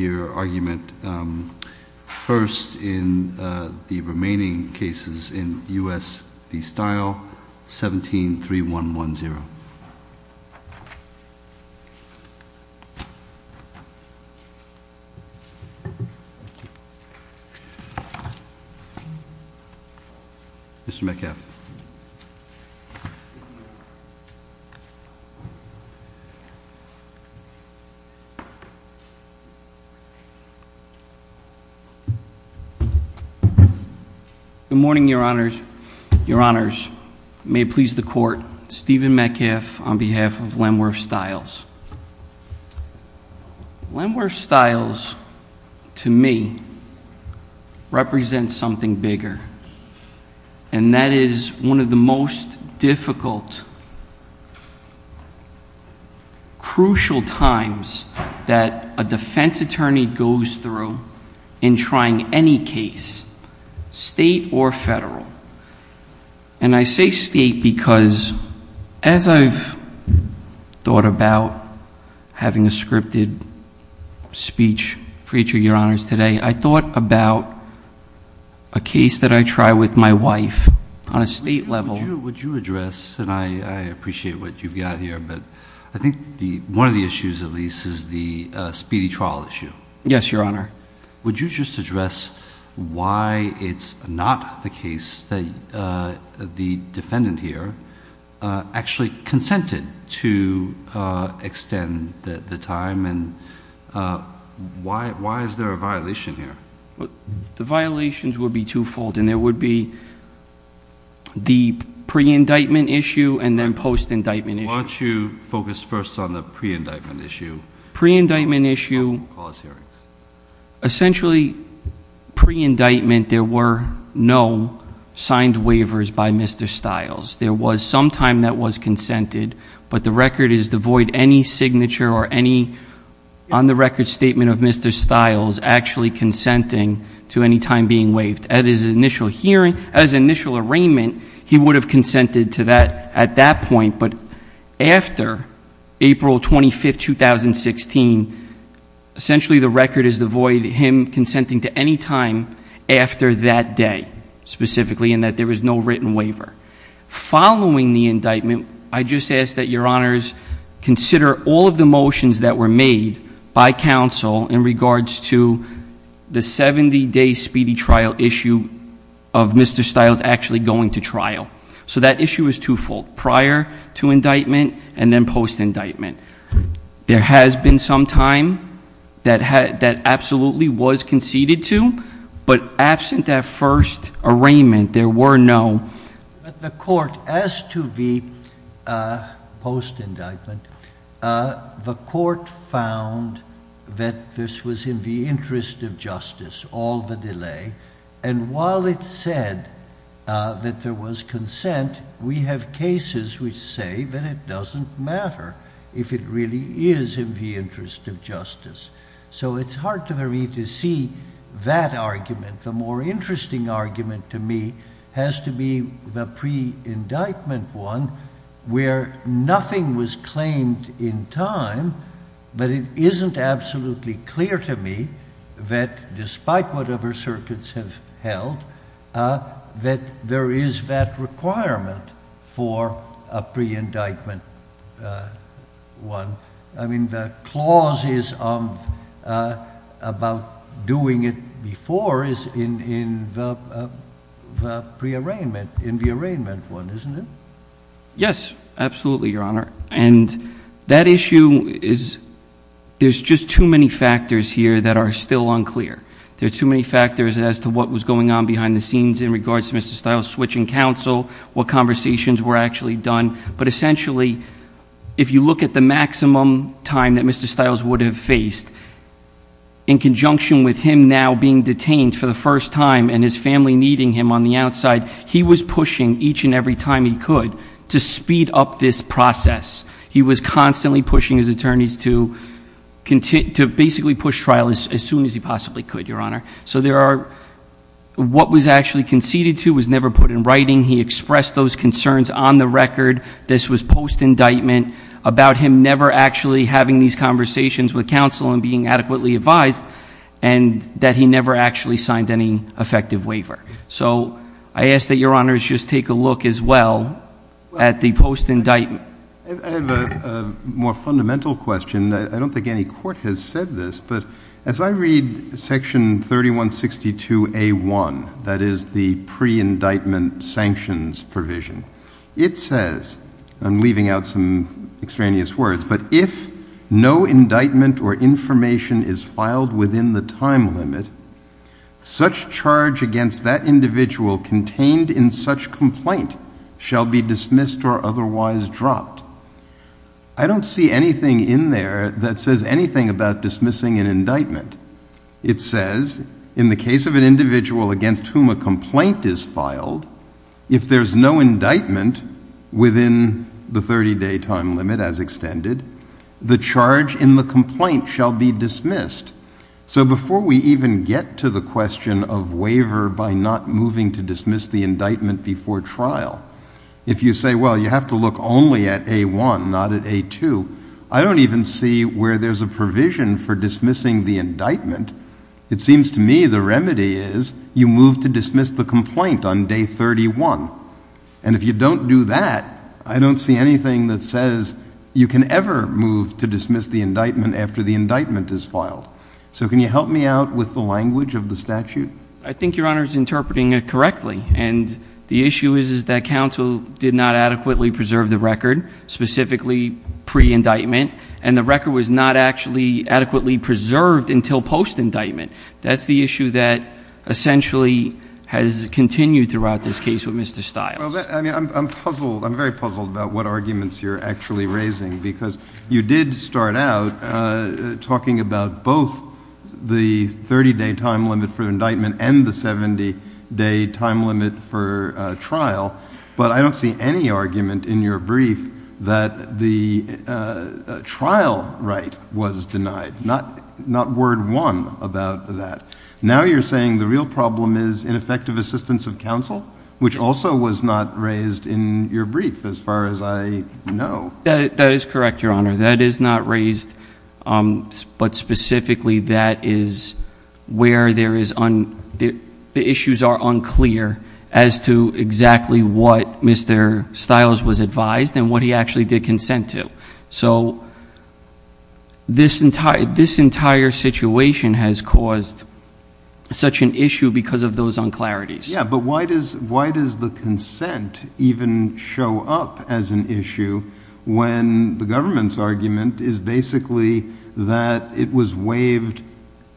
%HESITATION your argument %HESITATION the morning your honor's your honors may please the court steven mccaff on behalf of when we're styles when we're styles to me represent something bigger and that is one of the most difficult %HESITATION crucial times that a defense attorney goes through in trying any case state or federal and i say state because as i've thought about having a scripted speech preacher your honor's today i thought about a case that i try with my wife on a state level would you address and i i appreciate what you've got here but i think the one of the issues at least is the speedy trial issue yes your honor would you just address why it's not the case that uh... the defendant here uh... actually consented to uh... extend that the time and why why is there a violation here the violations will be twofold and there would be pre indictment issue and then post indictment issue focus first on the pre indictment issue pre indictment issue essentially pre indictment there were no signed waivers by mister styles there was some time that was consented but the record is devoid any signature or any on the record statement of mister styles actually consenting to any time being waived at his initial hearing as initial arraignment he would have consented to that at that point but after april twenty fifth two thousand sixteen essentially the record is devoid him consenting to any time after that day specifically in that there is no written waiver following the indictment i'd just ask that your honors consider all of the motions that were made by council in regards to the seventy day speedy trial issue of mister styles actually going to trial so that issue is twofold prior to indictment and then post indictment there has been some time that had that absolutely was conceded to but absent that first arraignment there were no the court asked to be post indictment uh... the court found that this was in the interest of justice all the delay and while it said uh... that there was consent we have cases which say that it doesn't matter if it really is in the interest of justice so it's hard for me to see that argument the more interesting argument to me has to be the pre indictment one where nothing was claimed in time but it isn't absolutely clear to me that despite whatever circuits have held that there is that requirement for a pre indictment i mean the clauses of about doing it before is in the pre arraignment in the arraignment one isn't it yes absolutely your honor and that issue is there's just too many factors here that are still unclear there's too many factors as to what was going on behind the scenes in regards to Mr. Stiles switching counsel what conversations were actually done but essentially if you look at the maximum time that Mr. Stiles would have faced in conjunction with him now being detained for the first time and his every time he could to speed up this process he was constantly pushing his attorneys to continue to basically push trial as soon as he possibly could your honor so there are what was actually conceded to was never put in writing he expressed those concerns on the record this was post indictment about him never actually having these conversations with counsel and being adequately advised and that he never actually signed any effective waiver so I ask that your honors just take a look as well at the post indictment I have a more fundamental question I don't think any court has said this but as I read section 3162 A1 that is the pre indictment sanctions provision it says I'm leaving out some extraneous words but if no indictment or information is filed within the time limit such charge against that individual contained in such complaint shall be dismissed or otherwise dropped I don't see anything in there that says anything about dismissing an indictment it says in the case of an individual against whom a complaint is filed if there's no indictment within the thirty day time limit as extended the charge in the complaint shall be dismissed so before we even get to the question of waiver by not moving to dismiss the indictment before trial if you say well you have to look only at A1 not at A2 I don't even see where there's a provision for dismissing the indictment it seems to me the remedy is you move to dismiss the complaint on day thirty one and if you don't do that I don't see anything that says you can ever move to dismiss the indictment after the indictment is filed so can you help me out with the language of the statute I think your honor is interpreting it correctly and the issue is that counsel did not adequately preserve the record specifically pre indictment and the record was not actually adequately preserved until post indictment essentially has continued throughout this case with Mr. Stiles I'm very puzzled about what arguments you're actually raising because you did start out talking about both the thirty day time limit for indictment and the seventy day time limit for trial but I don't see any argument in your brief that the trial right was denied not word one about that now you're saying the real problem is ineffective assistance of counsel which also was not raised in your brief as far as I know that is correct your honor that is not raised but specifically that is where there is the issues are unclear as to exactly what Mr. Stiles was advised and what he actually did consent to so this entire situation has caused such an issue because of those unclarities yeah but why does the consent even show up as an issue when the government's argument is basically that it was waived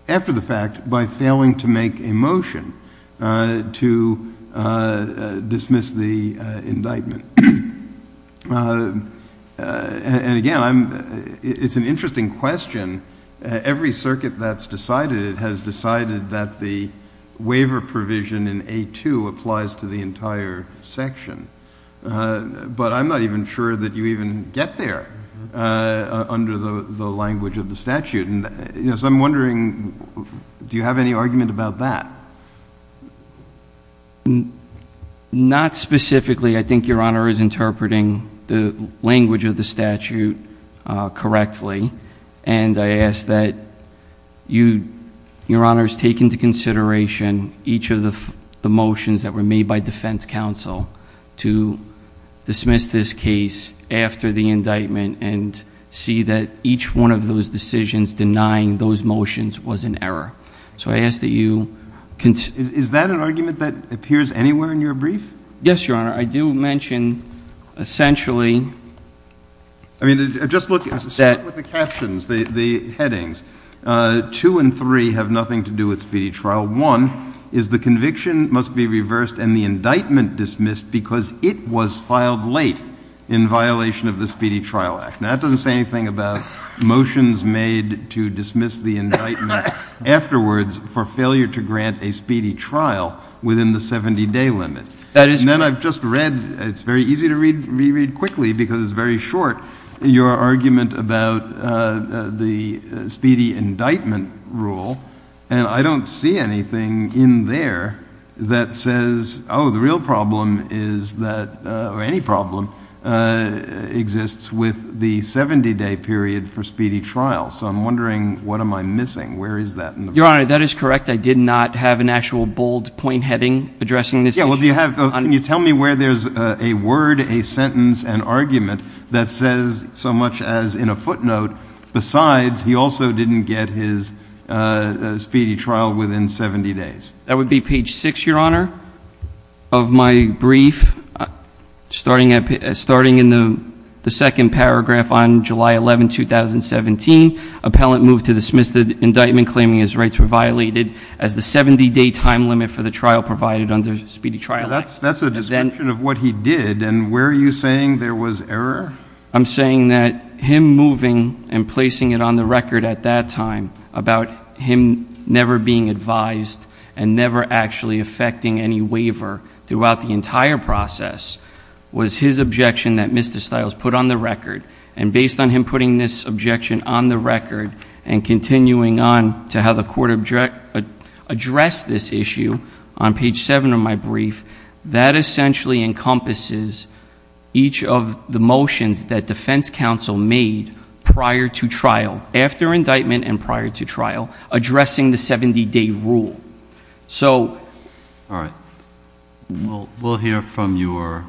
after the fact by failing to make a motion to dismiss the indictment and again it's an interesting question every circuit that's decided has decided that the waiver provision in A2 applies to the entire section but I'm not even sure that you even get there under the language of the statute and I'm wondering do you have any argument about that not specifically I think your honor is interpreting the language of the statute correctly and I ask that your honors take into consideration each of the the motions that were made by defense counsel to dismiss this case after the indictment and see that each one of those decisions denying those motions was an error so I ask that you is that an argument that appears anywhere in your brief yes your honor I do mention essentially that I mean just look at the captions the headings two and three have nothing to do with speedy trial one is the conviction must be reversed and the indictment dismissed because it was filed late in violation of the speedy trial act now that doesn't say anything about motions made to dismiss the indictment afterwards for failure to grant a speedy trial within the seventy day limit and then I've just read it's very easy to read quickly because it's very short your argument about the speedy indictment rule and I don't see anything in there that says oh the real problem is that or any problem exists with the seventy day period for speedy trial so I'm wondering what am I missing where is that your honor that is correct I did not have an actual bold point heading addressing this issue can you tell me where there's a word a sentence an argument that says so much as in a footnote besides he also didn't get his uh... speedy trial within seventy days that would be page six your honor of my brief starting in the the second paragraph on july eleven two thousand seventeen appellant moved to dismiss the indictment claiming his rights were violated as the seventy day time limit for the trial provided under speedy trial that's that's a description of what he did and where are you saying there was error I'm saying that him moving and placing it on the record at that time about him never being advised and never actually affecting any waiver throughout the entire process was his objection that Mr. Stiles put on the record and based on him putting this objection on the record and continuing on to how the court addressed this issue on page seven of my brief that essentially encompasses each of the motions that defense counsel made prior to trial after indictment and prior to trial addressing the seventy day rule we'll hear from your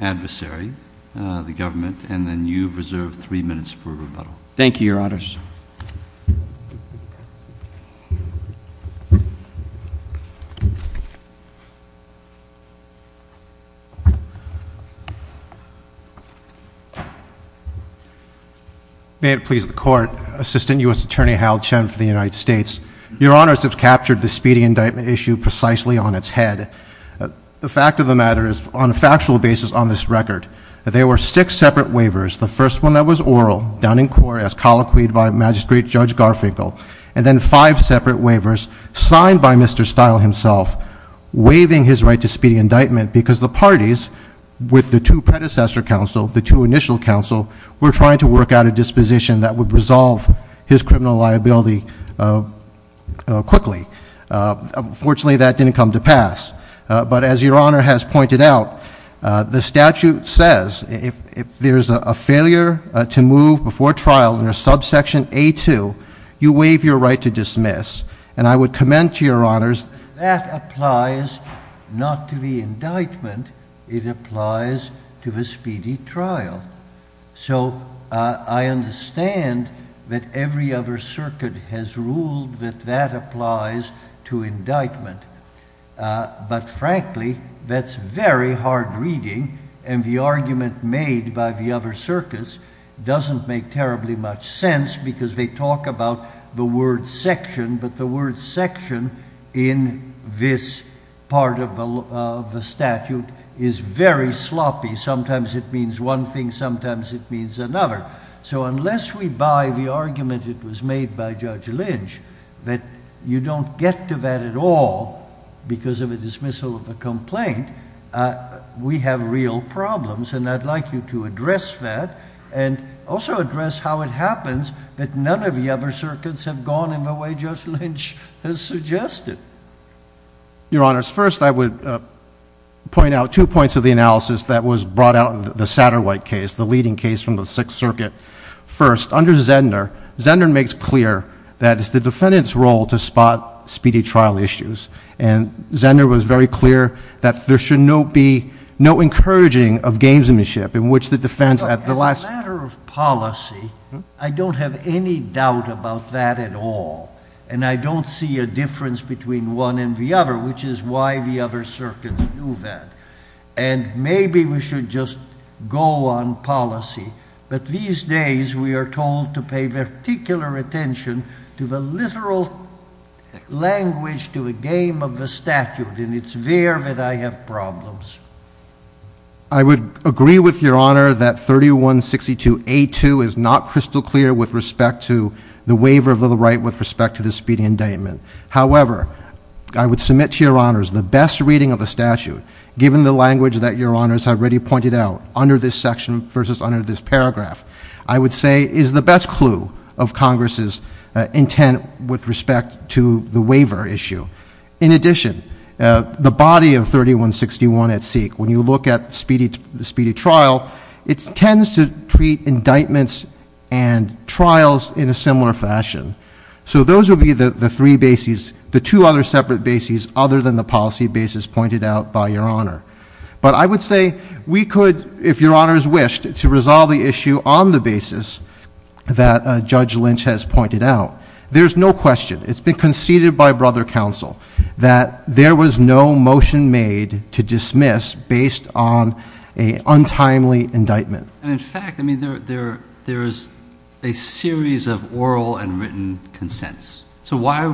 adversary uh... the government and then you've reserved three minutes for rebuttal thank you your honors may it please the court assistant U.S. attorney Hal Chen for the United States your honors have captured the speedy indictment issue precisely on its head the fact of the matter is on a factual basis on this record there were six separate waivers the first one that was oral down in court as colloquied by magistrate judge garfinkel and then five separate waivers signed by Mr. Stiles himself waiving his right to speedy indictment because the parties with the two predecessor counsel the two initial counsel were trying to work out a disposition that would resolve his criminal liability quickly uh... unfortunately that didn't come to pass uh... but as your honor has pointed out uh... the statute says if if there's a a failure to move before trial under subsection a two you waive your right to dismiss and i would commend to your honors that applies not to the indictment it applies to the speedy trial uh... i understand that every other circuit has ruled that that applies to indictment uh... but frankly that's very hard reading and the argument made by the other circuits doesn't make terribly much sense because they talk about the word section but the word section in this part of the statute is very sloppy sometimes it means one thing sometimes it means another so unless we buy the argument it was made by judge lynch you don't get to that at all because of the dismissal of the complaint we have real problems and i'd like you to address that also address how it happens that none of the other circuits have gone in the way judge lynch has suggested your honors first i would uh... point out two points of the analysis that was brought out in the satyr white case the leading case from the sixth circuit first under zender zender makes clear that it's the defendant's role to spot speedy trial issues and zender was very clear that there should not be no encouraging of gamesmanship in which the defense at the last as a matter of policy i don't have any doubt about that at all and i don't see a difference between one and the other which is why the other circuits do that and maybe we should just go on policy but these days we are told to pay particular attention to the literal language to the game of the statute and it's there that i have problems i would agree with your honor that thirty one sixty two a two is not crystal clear with respect to the waiver of the right with respect to the speedy indictment however i would submit to your honors the best reading of the statute given the language that your honors have already pointed out under this section versus under this paragraph i would say is the best clue of congress' intent with respect to the waiver issue in addition uh... the body of thirty one sixty one at seek when you look at speedy trial it tends to treat indictments and trials in a similar fashion so those would be the the three bases the two other separate bases other than the policy basis pointed out by your honor but i would say we could if your honors wished to resolve the issue on the basis that uh... judge lynch has pointed out there's no question it's been conceded by brother counsel that there was no motion made to dismiss based on a untimely indictment in fact i mean there there's a series of oral and written consents so why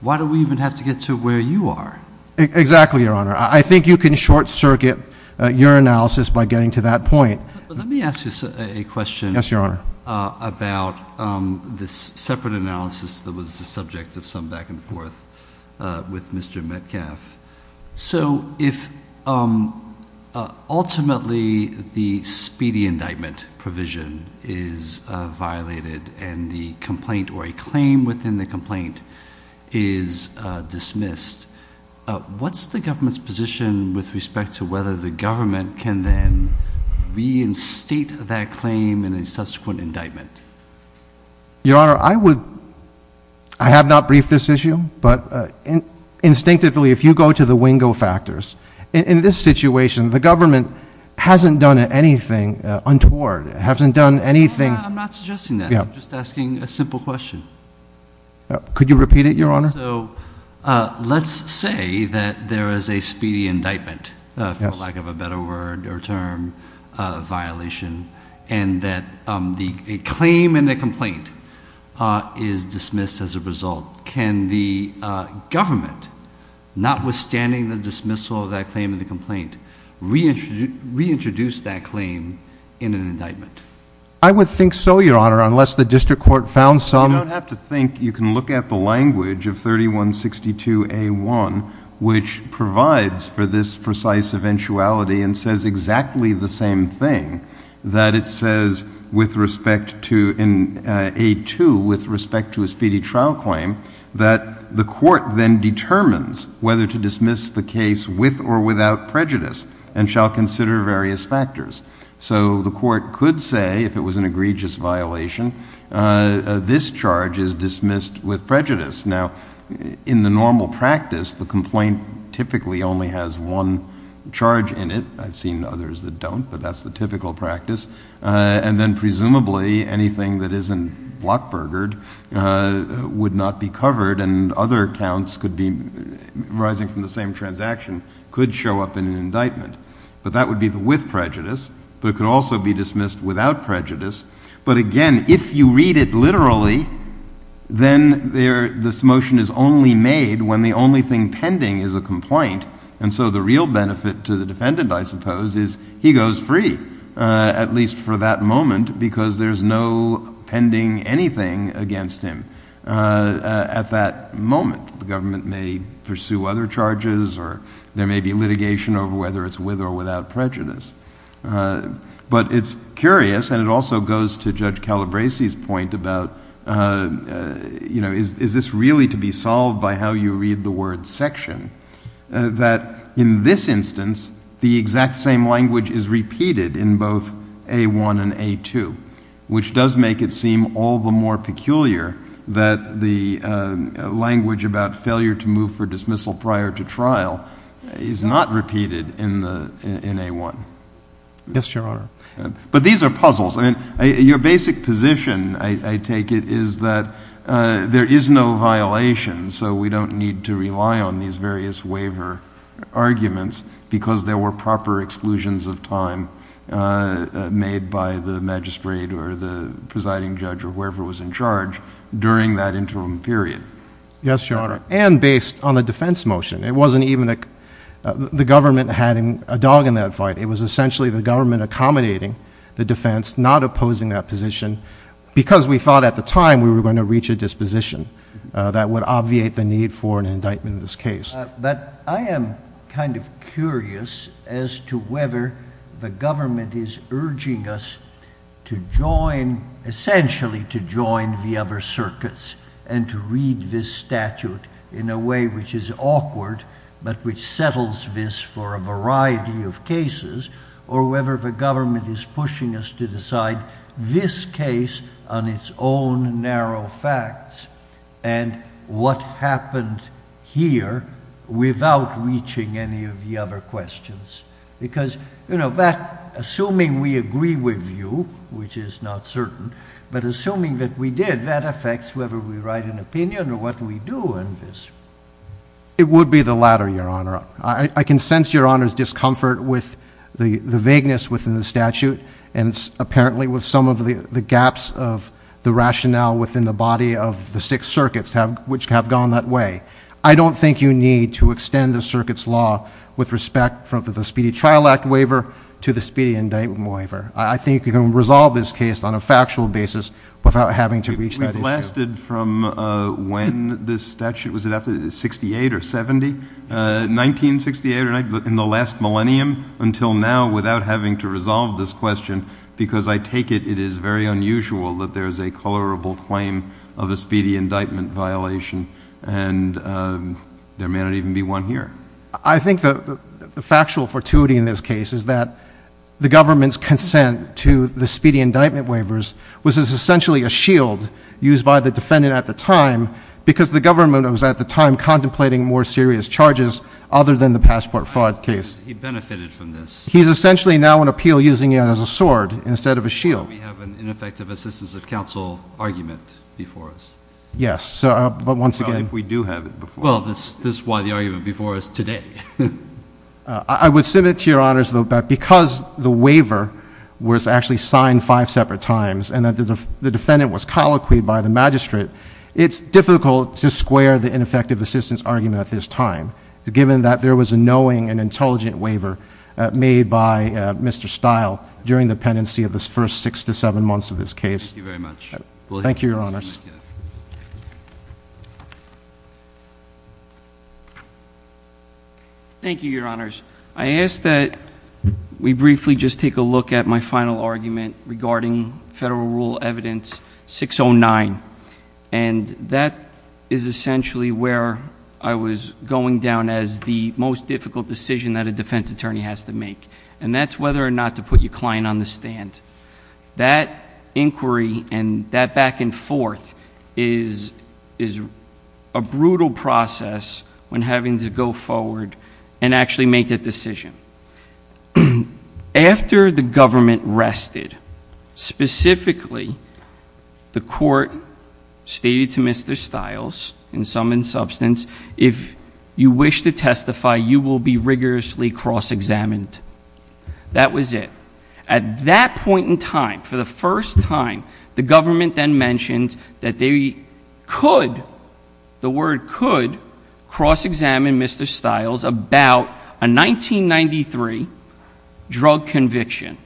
why do we even have to get to where you are exactly your honor i think you can short circuit uh... your analysis by getting to that point let me ask you a question uh... about uh... this separate analysis that was the subject of some back and forth uh... with mister metcalf so if uh... uh... ultimately the speedy indictment provision is uh... violated and the complaint or a claim within the complaint is uh... dismissed uh... what's the government's position with respect to whether the government can then reinstate that claim in a subsequent indictment your honor i would i have not briefed this issue but uh... instinctively if you go to the wingo factors in this situation the government hasn't done anything untoward hasn't done anything i'm not suggesting that i'm just asking a simple question could you repeat it your honor uh... let's say that there is a speedy indictment for lack of a better word or term uh... violation and that uh... the claim in the complaint uh... is dismissed as a result can the uh... government notwithstanding the dismissal of that claim in the complaint reintroduce that claim in an indictment i would think so your honor unless the district court found some you don't have to think you can look at the language of thirty one sixty two a one which provides for this precise eventuality and says exactly the same thing that it says with respect to in uh... a two with respect to a speedy trial claim that the court then determines whether to dismiss the case with or without prejudice and shall consider various factors so the court could say if it was an egregious violation uh... this charge is dismissed with prejudice now in the normal practice the complaint typically only has one charge in it i've seen others that don't but that's the typical practice uh... and then presumably anything that isn't uh... would not be covered and other accounts could be rising from the same transaction could show up in an indictment but that would be with prejudice but it could also be dismissed without prejudice but again if you read it literally then this motion is only made when the only thing pending is a complaint and so the real benefit to the defendant i suppose is he goes free uh... at least for that moment because there's no pending anything against him uh... at that moment the government may pursue other charges or there may be litigation over whether it's with or without prejudice but it's curious and it also goes to judge calabresi's point about uh... uh... you know is is this really to be solved by how you read the word section uh... that in this instance the exact same language is repeated in both a one and a two which does make it seem all the more peculiar that the uh... language about failure to move for dismissal prior to trial is not repeated in the in a one yes your honor but these are puzzles and your basic position i take it is that uh... there is no violation so we don't need to rely on these various waiver arguments because there were proper exclusions of time uh... made by the magistrate or the presiding judge or whoever was in charge during that interim period yes your honor and based on the defense motion it wasn't even a uh... the government had a dog in that fight it was essentially the government accommodating the defense not opposing that position because we thought at the time we were going to reach a disposition uh... that would obviate the need for an indictment in this case but i am kind of curious as to whether the government is urging us to join essentially to join the other circuits and to read this statute in a way which is awkward but which settles this for a variety of cases or whether the government is pushing us to decide this case on its own narrow facts and what happened here without reaching any of the other questions because you know that assuming we agree with you which is not certain but assuming that we did that affects whether we write an opinion or what we do in this it would be the latter your honor i can sense your honor's discomfort with the vagueness within the statute and apparently with some of the gaps of the rationale within the body of the six circuits which have gone that way i don't think you need to extend the circuits law with respect from the speedy trial act waiver to the speedy indictment waiver i think you can resolve this case on a factual basis without having to reach that issue we've lasted from uh... when this statute was it after sixty eight or seventy uh... nineteen sixty eight in the last millennium until now without having to resolve this question because i take it it is very unusual that there's a colorable claim of a speedy indictment violation and uh... there may not even be one here i think that uh... the factual fortuity in this case is that the government's consent to the speedy indictment waivers which is essentially a shield used by the defendant at the time because the government was at the time contemplating more serious charges other than the passport fraud case he benefited from this he's essentially now an appeal using it as a sword instead of a shield we have an ineffective assistance of counsel argument before us yes uh... but once again if we do have it before us well this is why the argument before us today uh... i would submit to your honors that because the waiver was actually signed five separate times and that the defendant was colloquied by the magistrate it's difficult to square the ineffective assistance argument at this time given that there was a knowing and intelligent waiver uh... made by uh... mister stile during the pendency of the first six to seven months of this case thank you very much thank you your honors thank you your honors i ask that we briefly just take a look at my final argument regarding federal rule evidence six oh nine and that is essentially where i was going down as the most difficult decision that a defense attorney has to make and that's whether or not to put your client on the stand that inquiry and that back and forth is a brutal process when having to go forward and actually make that decision after the government rested specifically the court stated to mister stiles in some in substance if you wish to testify you will be rigorously cross-examined that was it at that point in time for the first time the government then mentions that they could the word could cross-examine mister stiles about a nineteen ninety three drug conviction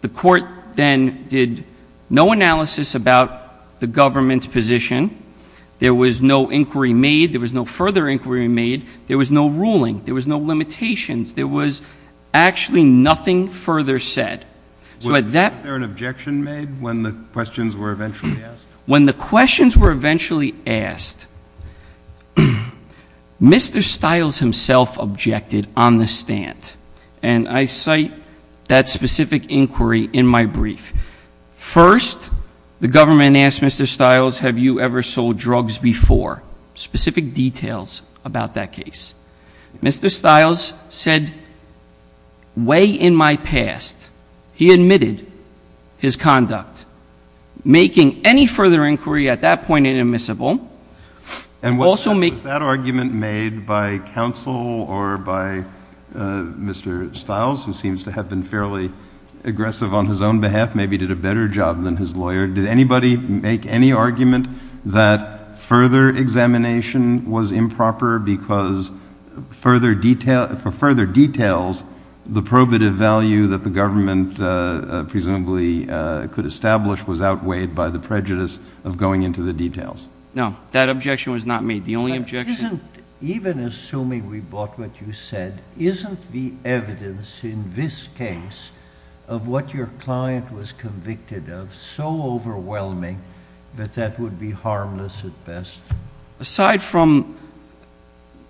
the court then did no analysis about the government's position there was no inquiry made there was no further inquiry made there was no ruling there was no limitations there was actually nothing further said so at that point, was there an objection made when the questions were eventually asked? when the questions were eventually asked mister stiles himself objected on the stand and i cite that specific inquiry in my brief first the government asked mister stiles have you ever sold drugs before specific details about that case mister stiles said way in my past he admitted his conduct making any further inquiry at that point inadmissible and also make that argument made by counsel or by mister stiles who seems to have been fairly aggressive on his own behalf maybe did a better job than his lawyer did anybody make any argument that further examination was improper because further details the probative value that the government uh... presumably uh... could establish was outweighed by the prejudice of going into the details that objection was not made the only objection even assuming we bought what you said isn't the evidence in this case of what your client was convicted of so overwhelming that that would be harmless at best aside from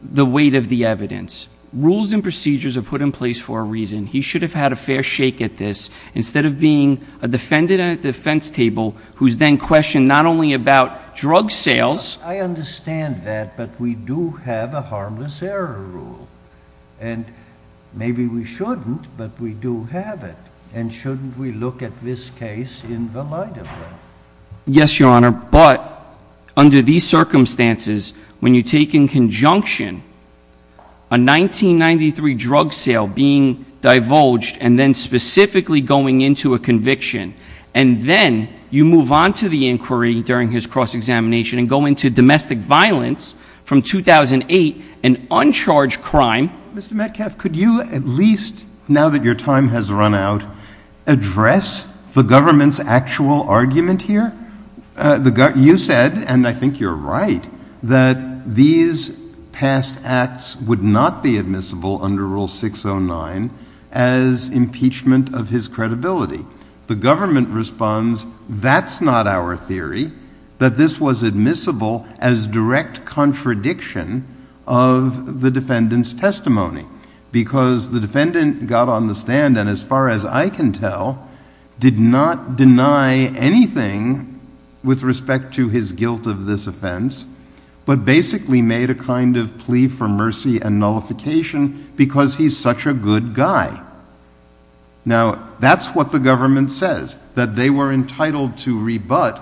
the weight of the evidence rules and procedures are put in place for a reason he should have had a fair shake at this instead of being a defendant at the defense table who's then questioned not only about drug sales i understand that but we do have a harmless error rule maybe we shouldn't but we do have it and shouldn't we look at this case in the light of that yes your honor but under these circumstances when you take in conjunction a nineteen ninety three drug sale being divulged and then specifically going into a conviction and then you move on to the inquiry during his cross-examination and go into domestic violence from two thousand eight an uncharged crime mister metcalf could you at least now that your time has run out address the government's actual argument here uh... the guy you said and i think you're right that these past acts would not be admissible under rule six oh nine as impeachment of his credibility the government responds that's not our theory that this was admissible as direct contradiction of the defendant's testimony because the defendant got on the stand and as far as i can tell did not deny anything with respect to his guilt of this offense but basically made a kind of plea for mercy and nullification because he's such a good guy that's what the government says that they were entitled to rebut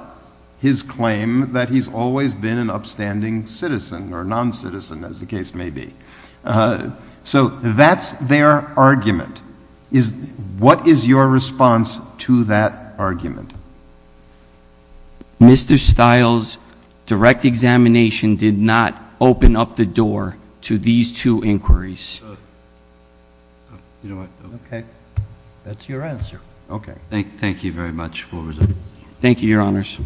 his claim that he's always been an upstanding citizen or non-citizen as the case may be uh... so that's their argument what is your response to that argument mister styles direct examination did not open up the door to these two inquiries that's your answer okay thank you very much thank you your honors